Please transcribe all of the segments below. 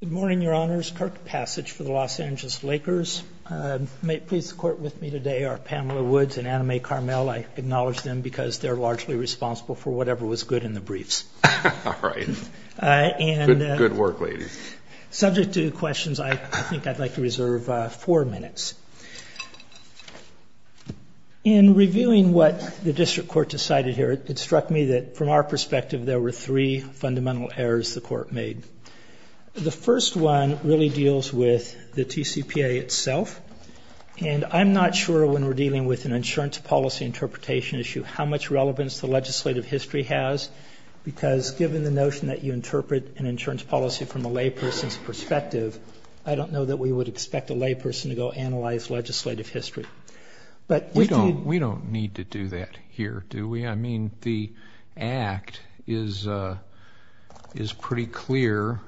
Good morning, Your Honors. Kirk Passage for the Los Angeles Lakers. May it please the Court with me today are Pamela Woods and Anna Mae Carmel. I acknowledge them because they're largely responsible for whatever was good in the briefs. Good work, ladies. Subject to questions, I think I'd like to reserve four minutes. In reviewing what the District Court decided here, it struck me that from our perspective, there were three fundamental errors the Court made. The first one really deals with the TCPA itself, and I'm not sure when we're dealing with an insurance policy interpretation issue how much relevance the legislative history has, because given the notion that you interpret an insurance policy from a layperson's perspective, I don't know that we would expect a layperson to go analyze legislative history. We don't need to do that here, do we? I mean, the Act is pretty clear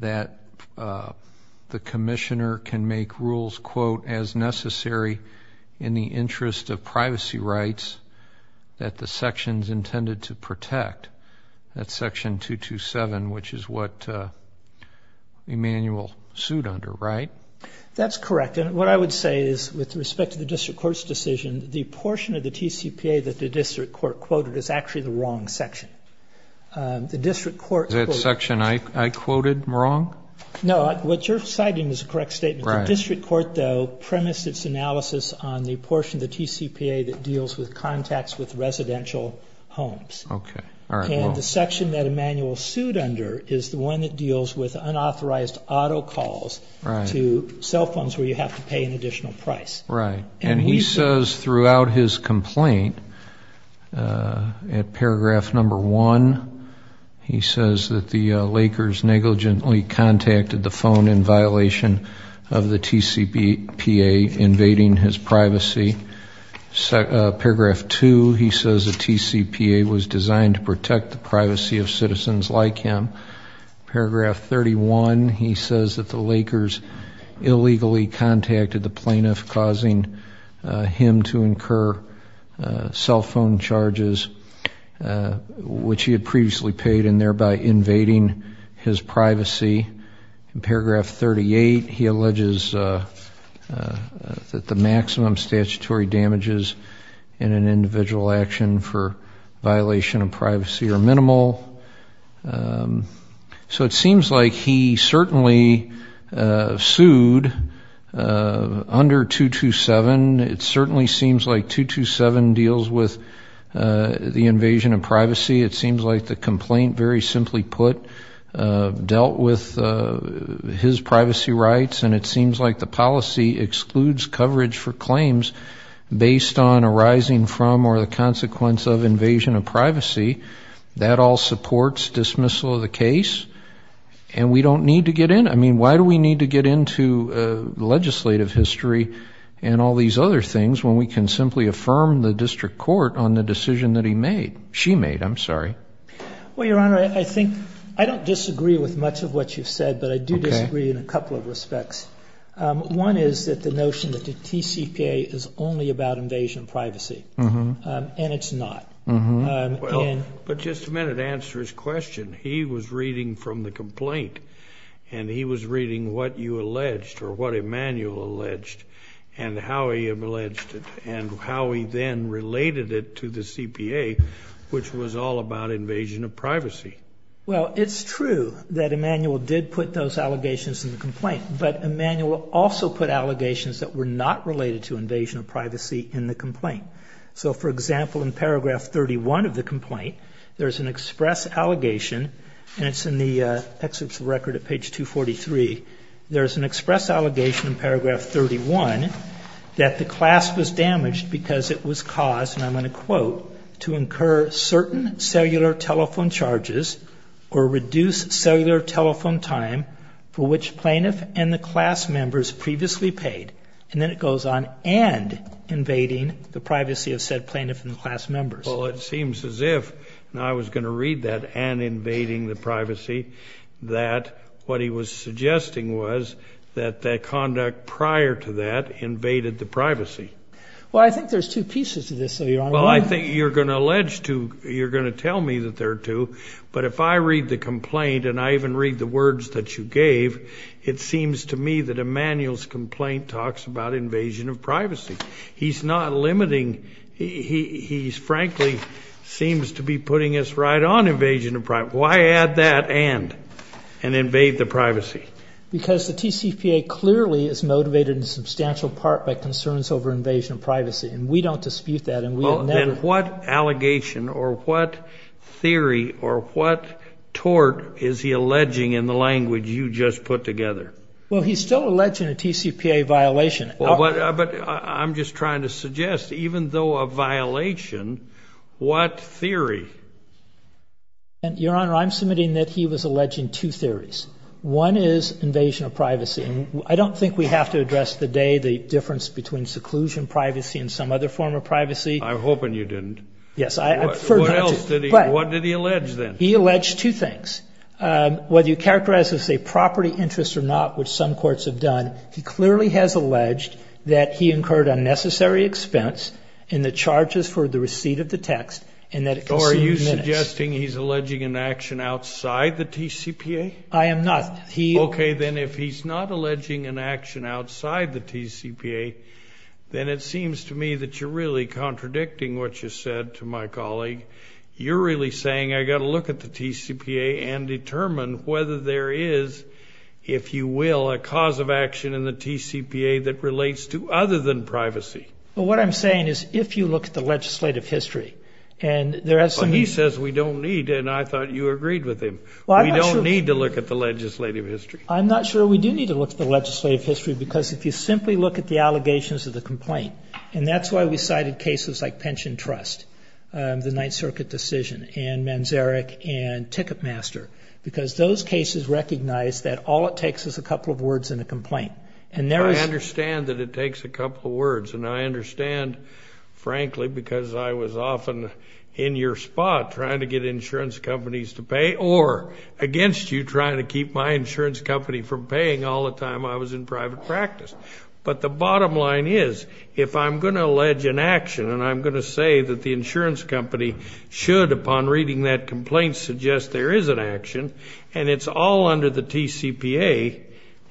that the Commissioner can make rules, quote, as necessary in the interest of privacy rights that the sections intended to protect. That's Section 227, which is what Emanuel sued under, right? That's correct, and what I would say is with respect to the District Court's decision, the portion of the TCPA that the District Court quoted is actually the wrong section. The District Court... Is that section I quoted wrong? No, what you're citing is a correct statement. The District Court, though, premised its analysis on the portion of the TCPA that deals with contacts with residential homes, and the section that Emanuel sued under is the one that deals with unauthorized auto calls to cell phones where you have to pay an additional price. Right, and he says throughout his complaint, at paragraph number one, he says that the Lakers negligently contacted the phone in violation of the TCPA, invading his privacy. Paragraph two, he says the TCPA was designed to protect the privacy of citizens like him. Paragraph 31, he says that the Lakers illegally contacted the plaintiff, causing him to incur cell phone charges, which he had previously paid, and thereby invading his privacy. Paragraph 38, he alleges that the maximum statutory damages in an individual action for violation of privacy are minimal. So it seems like he certainly sued under 227. It certainly seems like 227 deals with the invasion of privacy. It seems like the complaint, very simply put, dealt with his privacy rights, and it seems like the policy excludes coverage for claims based on arising from or the consequence of invasion of privacy. That all supports dismissal of the case, and we don't need to get in. I mean, why do we need to get into legislative history and all these other things when we can simply affirm the district court on the decision that he made, she made, I'm sorry. Well, Your I do disagree in a couple of respects. One is that the notion that the TCPA is only about invasion of privacy, and it's not. But just a minute to answer his question. He was reading from the complaint, and he was reading what you alleged, or what Emanuel alleged, and how he alleged it, and how he then related it to the CPA, which was all about invasion of privacy. Well, it's true that Emanuel did put those allegations in the complaint, but Emanuel also put allegations that were not related to invasion of privacy in the complaint. So for example, in paragraph 31 of the complaint, there's an express allegation, and it's in the excerpts of record at page 243. There's an express allegation in paragraph 31 that the class was damaged because it was caused, and I'm going to quote, to incur certain cellular telephone charges or reduce cellular telephone time for which plaintiff and the class members previously paid, and then it goes on, and invading the privacy of said plaintiff and the class members. Well, it seems as if, and I was going to read that, and invading the privacy, that what he was suggesting was that the conduct prior to that invaded the privacy. Well, I think there's two pieces to this though, Your Honor. Well, I think you're going to allege two, you're going to tell me that there are two, but if I read the words that you gave, it seems to me that Emanuel's complaint talks about invasion of privacy. He's not limiting, he's frankly seems to be putting us right on invasion of privacy. Why add that and, and invade the privacy? Because the TCPA clearly is motivated in substantial part by concerns over invasion of privacy, and we don't dispute that. Well, then what allegation, or what theory, or what tort is he alleging in the language you just put together? Well, he's still alleging a TCPA violation. But I'm just trying to suggest, even though a violation, what theory? Your Honor, I'm submitting that he was alleging two theories. One is invasion of privacy, and I don't think we have to address today the difference between seclusion privacy and some other form of privacy. I'm hoping you didn't. Yes, I prefer not to. What else did he, what did he allege then? He alleged two things. Whether you characterize this as a property interest or not, which some courts have done, he clearly has alleged that he incurred unnecessary expense in the charges for the receipt of the text, and that it consumed minutes. So are you suggesting he's alleging an action outside the TCPA? I am not. He... Okay, then if he's not alleging an action outside the TCPA, then it seems to me that you're really contradicting what you said to my colleague. You're really saying I got to look at the TCPA and determine whether there is, if you will, a cause of action in the TCPA that relates to other than privacy. But what I'm saying is, if you look at the legislative history, and there are some... He says we don't need, and I thought you agreed with him. We don't need to look at the legislative history. I'm not sure we do need to look at the legislative history, because if you simply look at the allegations of the complaint, and that's why we cited cases like Pension Trust, the Ninth Circuit decision, and Manzarek, and Ticketmaster, because those cases recognize that all it takes is a couple of words and a complaint, and there is... I understand that it takes a couple of words, and I understand, frankly, because I was often in your spot trying to get insurance companies to pay, or against you trying to keep my insurance company from paying all the time I was in private practice. But the bottom line is, if I'm going to allege an action, and I'm going to say that the insurance company should, upon reading that complaint, suggest there is an action, and it's all under the TCPA,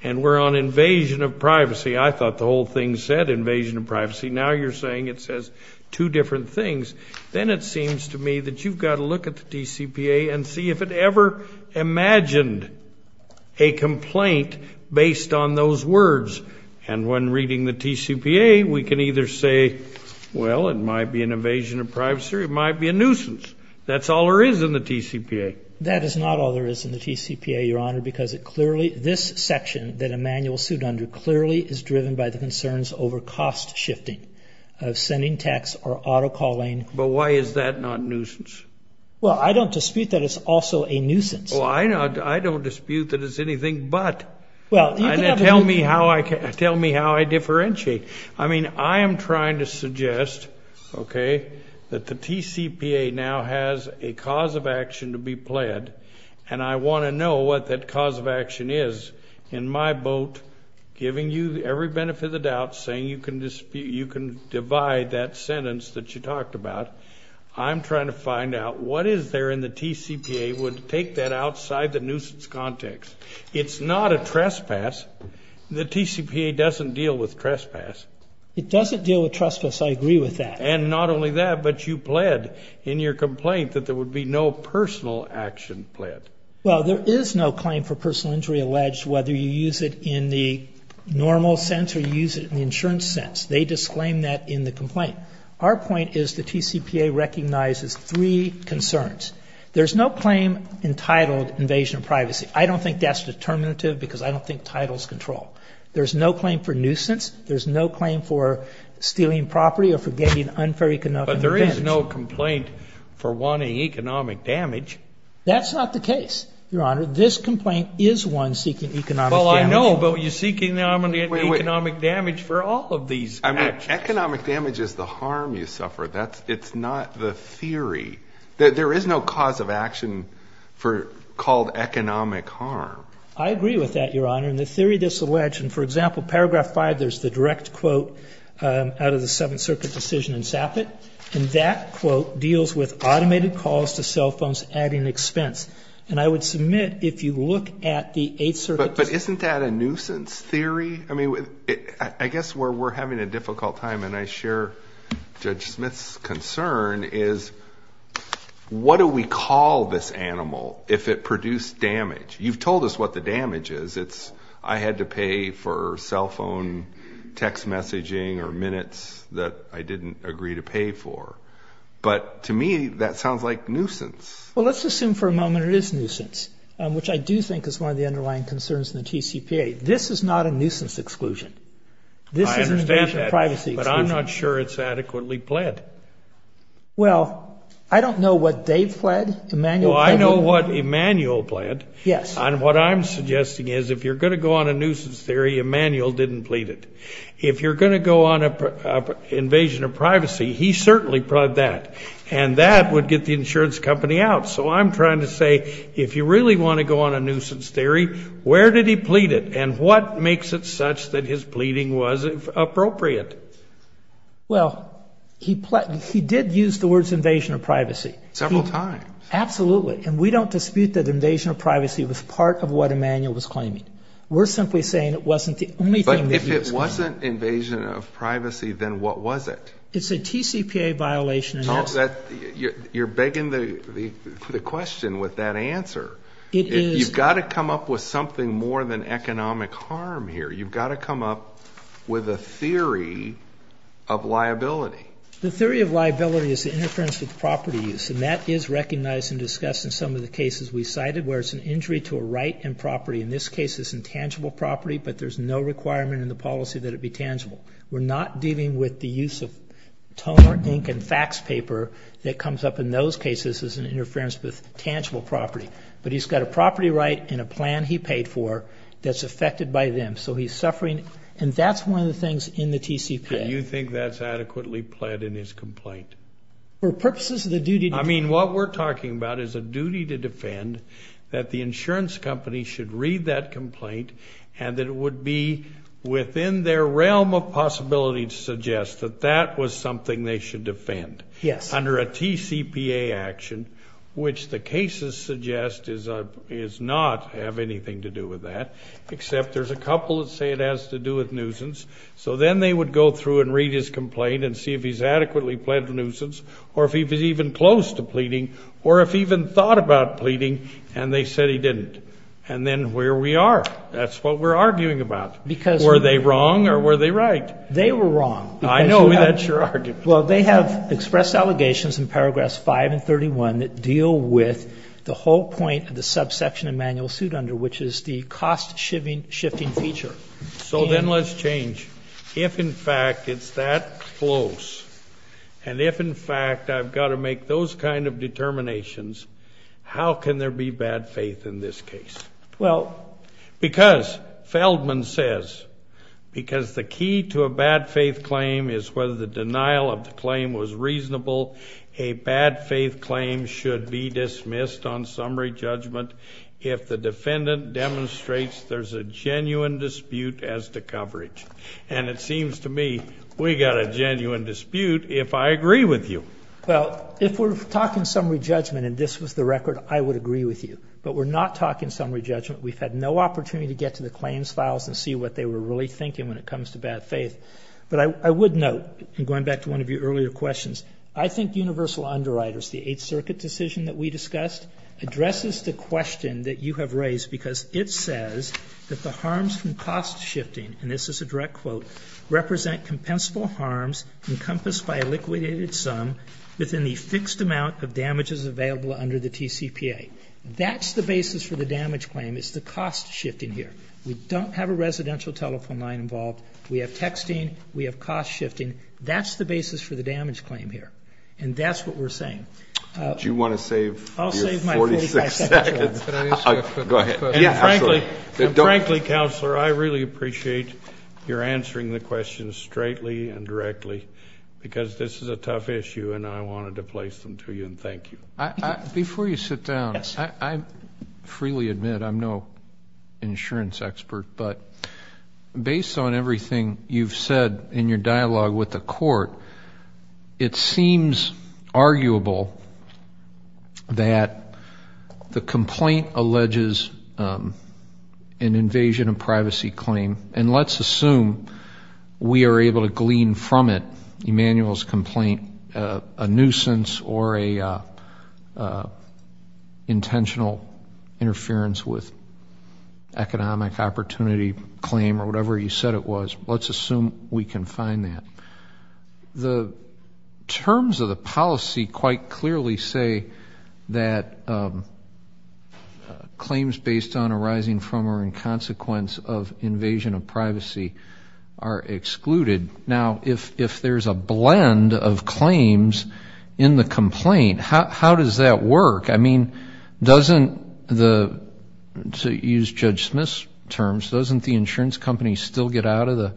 and we're on invasion of privacy. I thought the whole thing said invasion of privacy. Now you're saying it says two different things. Then it seems to me that you've got to look at the TCPA and see if it ever imagined a complaint based on those words. And when reading the TCPA, we can either say, well, it might be an evasion of privacy, or it might be a nuisance. That's all there is in the TCPA. That is not all there is in the TCPA, Your Honor, because it clearly, this section that Emanuel sued under, clearly is driven by the concerns over cost shifting, of sending text, or auto calling. But why is that not nuisance? Well, I don't dispute that it's also a nuisance. Well, I know, I don't dispute that it's anything but. Well, tell me how I can, tell me how I differentiate. I mean, I am trying to suggest, okay, that the TCPA now has a cause of action to be pled, and I want to know what that cause of action is, in my boat, giving you every benefit of the doubt, saying you can dispute, you can divide that sentence that you talked about. I'm trying to find out what is there in the TCPA would take that outside the nuisance context. It's not a trespass. The TCPA doesn't deal with trespass. It doesn't deal with trespass, I agree with that. And not only that, but you pled in your complaint that there would be no personal action pled. Well, there is no claim for personal injury alleged, whether you use it in the normal sense, or use it in the insurance sense. They disclaim that in the complaint. Our point is the TCPA recognizes three concerns. There's no claim entitled invasion of privacy. I don't think that's determinative, because I don't think titles control. There's no claim for nuisance. There's no claim for stealing property or for getting unfair economic revenge. But there is no complaint for wanting economic damage. That's not the case, Your Honor. This complaint is one seeking economic damage. Well, I know, but you're going to get economic damage for all of these actions. Economic damage is the harm you suffer. That's, it's not the theory. There is no cause of action for, called economic harm. I agree with that, Your Honor. In the theory disalleged, and for example, paragraph 5, there's the direct quote out of the Seventh Circuit decision in Sappett, and that quote deals with automated calls to cell phones adding expense. And I would submit, if you look at the Eighth Circuit... But isn't that a I mean, I guess where we're having a difficult time, and I share Judge Smith's concern, is what do we call this animal if it produced damage? You've told us what the damage is. It's I had to pay for cell phone text messaging or minutes that I didn't agree to pay for. But to me, that sounds like nuisance. Well, let's assume for a moment it is nuisance, which I do think is one of the underlying concerns in the TCPA. This is not a nuisance exclusion. I understand that, but I'm not sure it's adequately pled. Well, I don't know what Dave pled, Emanuel pled. Oh, I know what Emanuel pled. Yes. And what I'm suggesting is, if you're going to go on a nuisance theory, Emanuel didn't plead it. If you're going to go on a invasion of privacy, he certainly pled that, and that would get the insurance company out. So I'm trying to say, if you really want to go on a nuisance theory, where did he plead it, and what makes it such that his pleading was appropriate? Well, he pled, he did use the words invasion of privacy. Several times. Absolutely, and we don't dispute that invasion of privacy was part of what Emanuel was claiming. We're simply saying it wasn't the only thing. But if it wasn't invasion of privacy, then what was it? It's a TCPA violation. You're begging the question with that answer. You've got to come up with something more than economic harm here. You've got to come up with a theory of liability. The theory of liability is the interference with property use, and that is recognized and discussed in some of the cases we cited, where it's an injury to a right and property. In this case, it's intangible property, but there's no requirement in the policy that it be the use of toner, ink, and fax paper that comes up in those cases as an interference with tangible property. But he's got a property right and a plan he paid for that's affected by them. So he's suffering, and that's one of the things in the TCPA. Do you think that's adequately pled in his complaint? For purposes of the duty... I mean, what we're talking about is a duty to defend that the insurance company should read that complaint, and that it would be within their realm of possibility to suggest that that was something they should defend. Yes. Under a TCPA action, which the cases suggest is not have anything to do with that, except there's a couple that say it has to do with nuisance. So then they would go through and read his complaint and see if he's adequately pled nuisance, or if he was even close to pleading, or if he even thought about pleading, and they said he didn't. And then where we are, that's what we're arguing about. Because... They were wrong, or were they right? They were wrong. I know, that's your argument. Well, they have expressed allegations in paragraphs 5 and 31 that deal with the whole point of the subsection of manual suit under, which is the cost shifting feature. So then let's change. If in fact it's that close, and if in fact I've got to make those kind of determinations, how can there be bad faith in this case? Well... Because Feldman says, because the key to a bad faith claim is whether the denial of the claim was reasonable, a bad faith claim should be dismissed on summary judgment if the defendant demonstrates there's a genuine dispute as to coverage. And it seems to me we got a genuine dispute if I agree with you. Well, if we're talking summary judgment, and this was the record, I would agree with you. But we're not talking summary judgment. We've had no opportunity to get to the claims files and see what they were really thinking when it comes to bad faith. But I would note, and going back to one of your earlier questions, I think universal underwriters, the Eighth Circuit decision that we discussed, addresses the question that you have raised, because it says that the harms from cost shifting, and this is a direct quote, represent compensable harms encompassed by a liquidated sum within the fixed amount of damages available under the TCPA. That's the basis for the damage claim. It's the cost shifting here. We don't have a residential telephone line involved. We have texting. We have cost shifting. That's the basis for the damage claim here. And that's what we're saying. Do you want to save... I'll save my 46 seconds. Go ahead. Frankly, frankly, Counselor, I really appreciate your answering the questions straightly and directly, because this is a tough issue and I wanted to place them to you and thank you. Before you sit down, I freely admit I'm no insurance expert, but based on everything you've said in your dialogue with the court, it seems arguable that the complaint alleges an invasion of privacy claim, and let's assume we can find that. The terms of the policy quite clearly say that claims based on arising from or in consequence of invasion of privacy are excluded. Now, if there's a blend of claims in the complaint, how does that work? I mean, doesn't the, to use Judge Smith's terms, doesn't the insurance company still get out of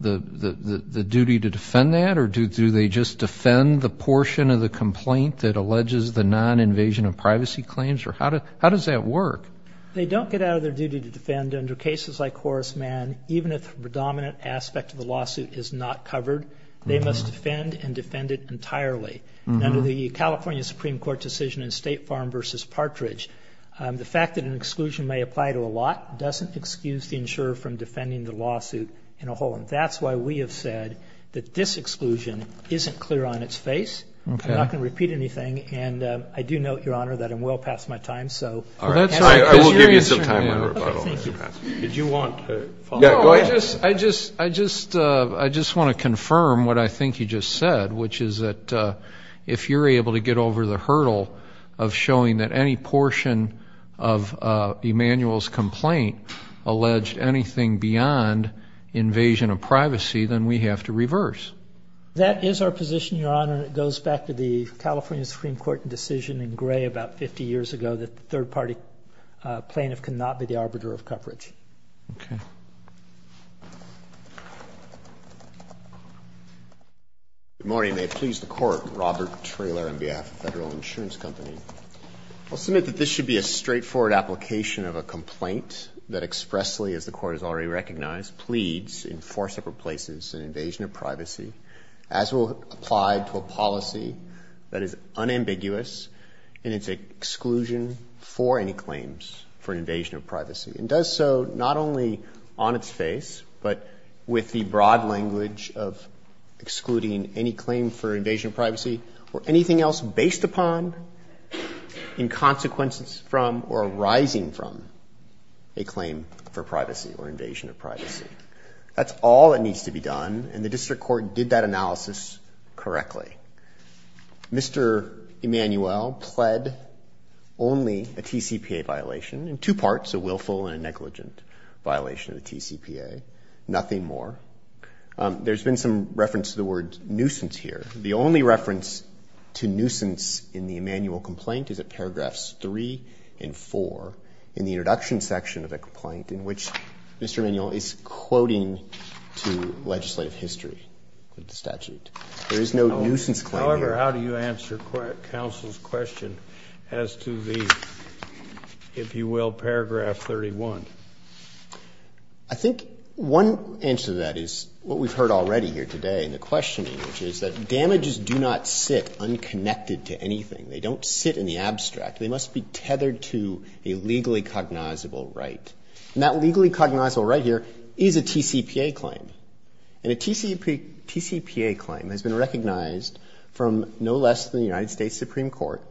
the duty to defend that? Or do they just defend the portion of the complaint that alleges the non-invasion of privacy claims? Or how does that work? They don't get out of their duty to defend under cases like Horace Mann, even if the predominant aspect of the lawsuit is not covered, they must defend and defend it entirely. Under the California Supreme Court decision in State Farm v. Partridge, the fact that an exclusion may apply to a lot doesn't excuse the insurer from defending the lawsuit in a whole. And that's why we have said that this exclusion isn't clear on its face. I'm not going to repeat anything, and I do note, Your Honor, that I'm well past my time, so. I will give you until the time of my rebuttal, Mr. Passman. Did you want to follow up? No, I just, I just, I just, I just want to confirm what I think you just said, which is that if you're able to get over the hurdle of showing that any portion of Emanuel's complaint alleged anything beyond invasion of privacy, then we have to reverse. That is our position, Your Honor, and it goes back to the California Supreme Court decision in Gray about 50 years ago, the third party plaintiff cannot be the arbiter of coverage. Okay. Good morning. May it please the Court, Robert Traylor on behalf of Federal Insurance Company. I'll submit that this should be a straightforward application of a complaint that expressly, as the Court has already recognized, pleads in four separate places, an invasion of privacy, as will apply to a policy that is for invasion of privacy, and does so not only on its face, but with the broad language of excluding any claim for invasion of privacy or anything else based upon, in consequence from, or arising from a claim for privacy or invasion of privacy. That's all that needs to be done, and the District Court did that analysis correctly. Mr. Emanuel pled only a TCPA violation, in two parts, a willful and a negligent violation of the TCPA, nothing more. There's been some reference to the word nuisance here. The only reference to nuisance in the Emanuel complaint is at paragraphs three and four in the introduction section of the statute. There is no nuisance claim here. However, how do you answer counsel's question as to the, if you will, paragraph 31? I think one answer to that is what we've heard already here today in the questioning, which is that damages do not sit unconnected to anything. They don't sit in the abstract. They must be tethered to a legally cognizable right. And that is a TCPA claim. And a TCPA claim has been recognized from no less than the United States Supreme Court,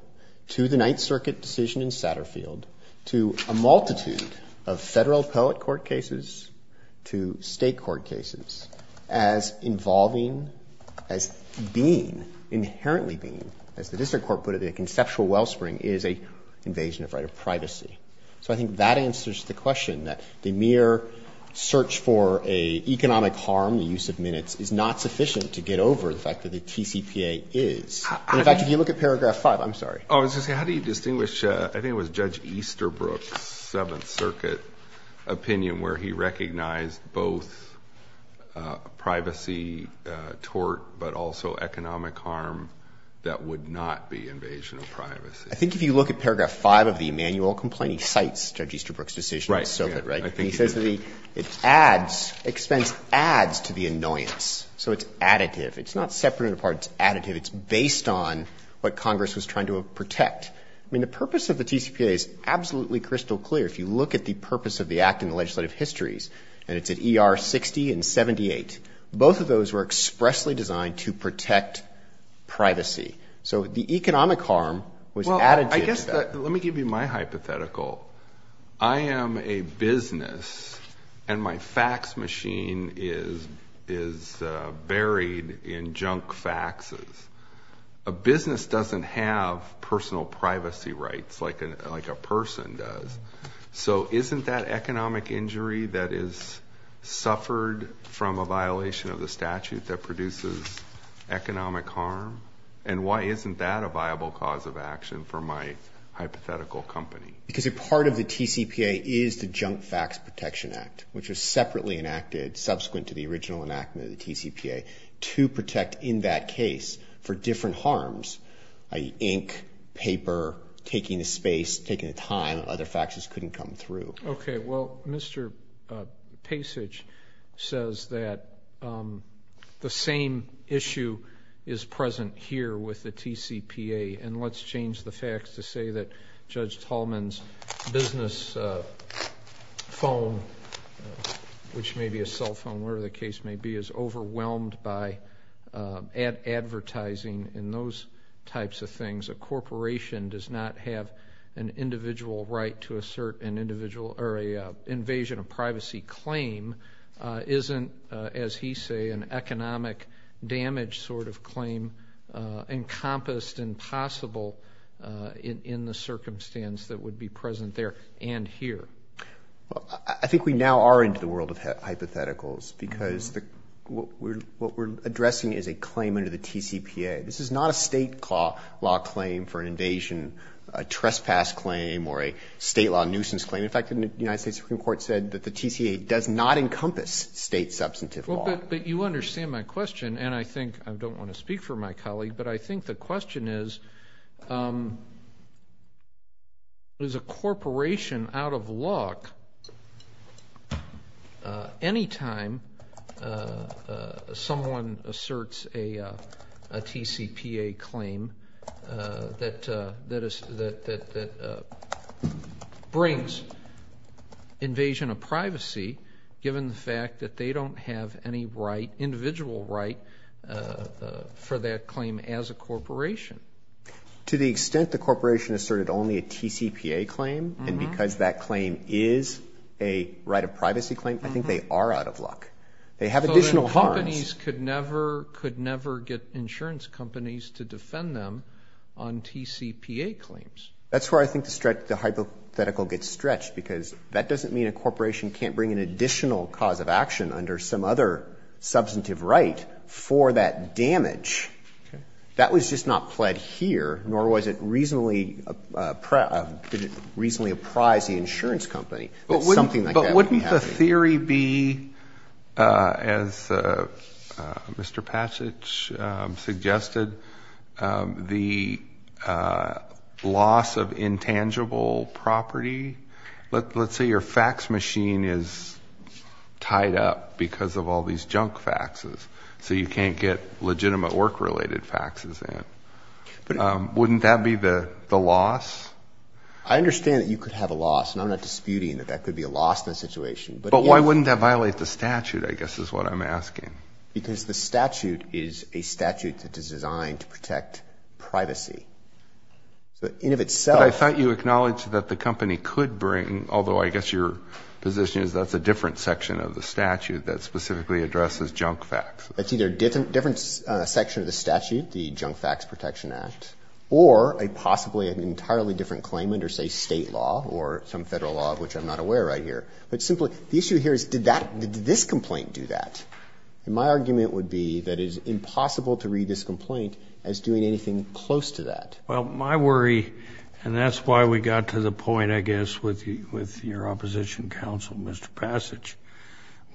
to the Ninth Circuit decision in Satterfield, to a multitude of federal appellate court cases, to state court cases, as involving, as being, inherently being, as the District Court put it, a conceptual wellspring is a invasion of right of privacy. So I think that answers the question, that the mere search for a economic harm, the use of minutes, is not sufficient to get over the fact that the TCPA is. In fact, if you look at paragraph five, I'm sorry. Oh, I was going to say, how do you distinguish, I think it was Judge Easterbrook's Seventh Circuit opinion, where he recognized both privacy tort, but also economic harm that would not be invasion of privacy? I think if you look at paragraph five of the Emanuel complaint, he cites Judge Easterbrook's decision. Right. And he says that the, it adds, expense adds to the annoyance. So it's additive. It's not separated apart, it's additive. It's based on what Congress was trying to protect. I mean, the purpose of the TCPA is absolutely crystal clear. If you look at the purpose of the act in the legislative histories, and it's at ER 60 and 78, both of those were expressly designed to protect privacy. So the economic harm was additive to that. Let me give you my hypothetical. I am a business, and my fax machine is buried in junk faxes. A business doesn't have personal privacy rights like a person does. So isn't that economic injury that is suffered from a violation of the statute that produces economic harm? And why isn't that a viable cause of action for my hypothetical company? Because a part of the TCPA is the Junk Fax Protection Act, which was separately enacted subsequent to the original enactment of the TCPA, to protect in that case for different harms, i.e. ink, paper, taking a space, taking a time, other faxes couldn't come through. Okay. Well, Mr. Pasich says that the same issue is present here with the fax to say that Judge Tallman's business phone, which may be a cell phone, whatever the case may be, is overwhelmed by advertising and those types of things. A corporation does not have an individual right to assert an individual, or an invasion of privacy claim isn't, as he say, an in the circumstance that would be present there and here. Well, I think we now are into the world of hypotheticals because what we're addressing is a claim under the TCPA. This is not a state law claim for an invasion, a trespass claim, or a state law nuisance claim. In fact, the United States Supreme Court said that the TCPA does not encompass state substantive law. But you understand my question, and I think, I don't want to speak for my question is, is a corporation out of luck anytime someone asserts a TCPA claim that brings invasion of privacy, given the fact that they don't have any right, individual right, for that claim as a corporation. To the extent the corporation asserted only a TCPA claim, and because that claim is a right of privacy claim, I think they are out of luck. They have additional harms. Companies could never, could never get insurance companies to defend them on TCPA claims. That's where I think the hypothetical gets stretched because that doesn't mean a corporation can't bring an additional cause of action under some other substantive right for that damage. That was just not pled here, nor was it reasonably, did it reasonably apprise the insurance company that something like that would be happening. But wouldn't the theory be, as Mr. Patchett suggested, the loss of intangible property? Let's say your fax machine is tied up because of all these junk faxes, so you can't get legitimate work-related faxes in. Wouldn't that be the loss? I understand that you could have a loss, and I'm not disputing that that could be a loss in that situation. But why wouldn't that violate the statute, I guess, is what I'm asking. Because the statute is a statute that is designed to protect privacy. In of itself... But I thought you acknowledged that the company could bring, although I guess your position is that's a different section of the statute that specifically addresses junk fax. It's either a different section of the statute, the Junk Fax Protection Act, or a possibly an entirely different claim under, say, state law or some federal law of which I'm not aware right here. But simply, the issue here is, did this complaint do that? And my argument would be that it is impossible to read this complaint as doing anything close to that. Well, my worry, and that's why we got to the point, I guess, with your opposition counsel, Mr. Passage,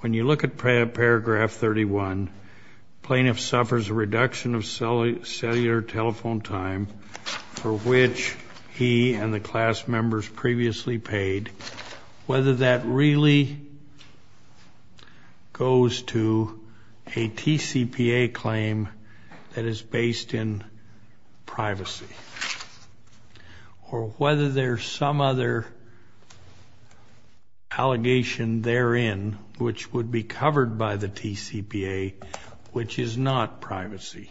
when you look at paragraph 31, plaintiff suffers a reduction of cellular telephone time for which he and the class members previously paid, whether that really goes to a TCPA claim that is based in privacy, or whether there's some other allegation therein which would be covered by the TCPA which is not privacy.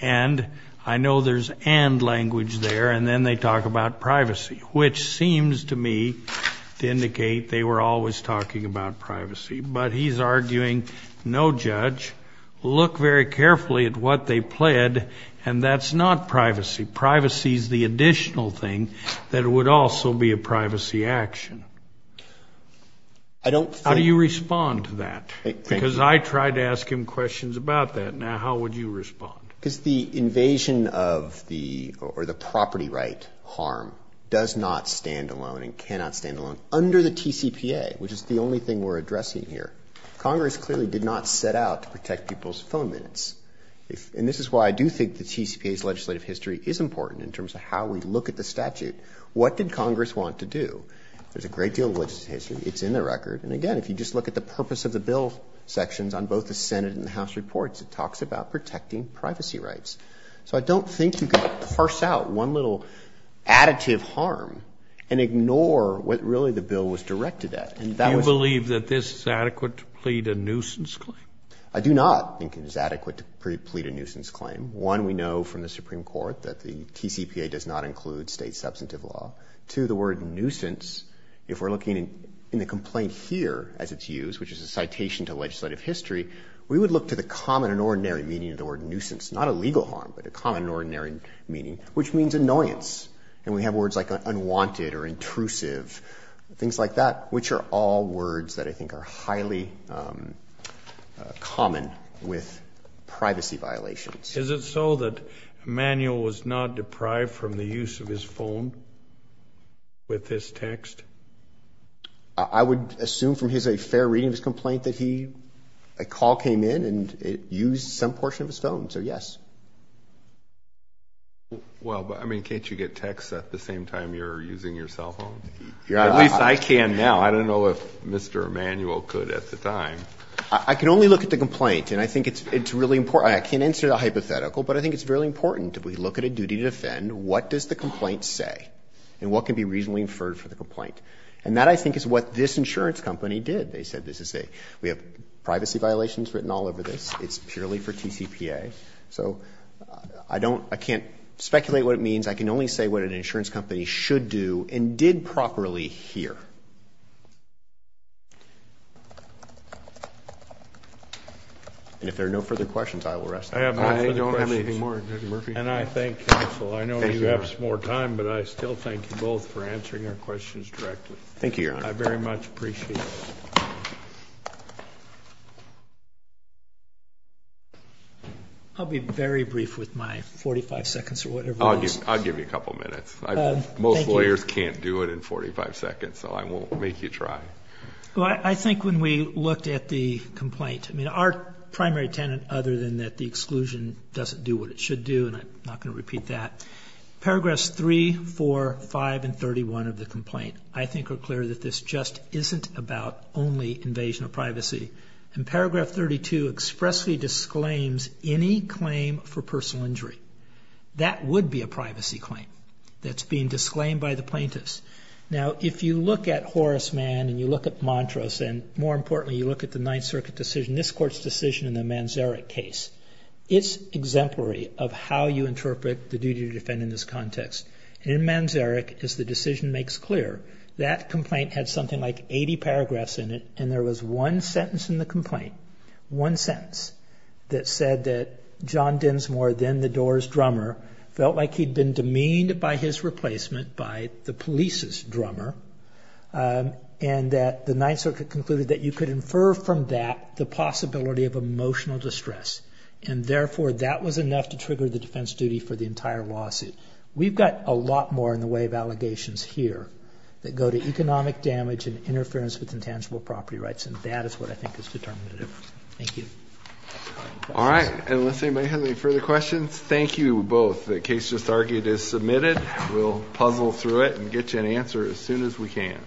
And I know there's and language there, and then they talk about privacy, which seems to me to indicate they were always talking about privacy. But he's arguing, no judge, look very carefully at what they pled, and that's not privacy. Privacy is the additional thing that would also be a privacy action. How do you respond to that? Because I tried to ask him questions about that. Now, how would you respond? Because the invasion of the property right harm does not stand alone and there's a great deal of legislative history, it's in the record, and again, if you just look at the purpose of the bill sections on both the Senate and the House reports, it talks about protecting privacy rights. So I don't think you can parse out one little additive harm and ignore what really the bill was directed at. Do you believe that this is adequate to plead a nuisance claim? I do not think it is adequate to plead a nuisance claim. One, we know from the Supreme Court that the TCPA does not include state substantive law. Two, the word nuisance, if we're looking in the complaint here as it's used, which is a citation to legislative history, we would look to the common and ordinary meaning of the word nuisance. Not a legal harm, but a common and ordinary meaning, which means annoyance. And we have words like unwanted or intrusive, things like that, which are all words that I think are highly common with privacy violations. Is it so that Emanuel was not deprived from the use of his phone with this text? I would assume from his fair reading of his complaint that a call came in and it used some portion of his phone, so yes. Well, but I mean, can't you get texts at the same time you're using your cell phone? At least I can now. I don't know if Mr. Emanuel could at the time. I can only look at the complaint, and I think it's really important. I can't answer the hypothetical, but I think it's really important that we look at a duty to defend. What does the complaint say? And what can be reasonably inferred for the complaint? And that, I think, is what this insurance company did. They said this is a, we have privacy violations written all over this. It's purely for TCPA. So I don't, I can't speculate what it means. I can only say what an insurance company should do and did properly here. And if there are no further questions, I will rest. I don't have any more, Judge Murphy. And I thank counsel. I know you have some more time, but I still thank you both for answering our questions directly. Thank you, Your Honor. I very much appreciate it. I'll be very brief with my 45 seconds or whatever it is. I'll give you a couple minutes. Most lawyers can't do it in 45 seconds, so I won't make you try. Well, I think when we looked at the complaint, I mean, our primary tenant, other than that the exclusion doesn't do what it should do, and I'm not going to repeat that. Paragraphs 3, 4, 5, and 31 of the complaint, I think are clear that this just isn't about only invasion of privacy. And Paragraph 32 expressly disclaims any claim for personal injury. That would be a privacy claim that's being disclaimed by the plaintiffs. Now, if you look at Horace Mann and you look at Montrose, and more importantly you look at the Ninth Circuit decision, this Court's decision in the Manzarek case, it's exemplary of how you interpret the duty to defend in this context. In Manzarek, as the decision makes clear, that complaint had something like 80 paragraphs in it, and there was one sentence in the complaint, one sentence, that said that John Dinsmore, then the door's drummer, felt like he'd been demeaned by his replacement, by the police's drummer, and that the Ninth Circuit concluded that you could infer from that the possibility of emotional distress, and therefore that was enough to trigger the defense duty for the entire lawsuit. We've got a lot more in the way of allegations here that go to economic damage and interference with intangible property rights, and that is what I think is determinative. Thank you. All right. Unless anybody has any further questions, thank you both. The case just argued is submitted. We'll puzzle through it and get you an answer as soon as we can.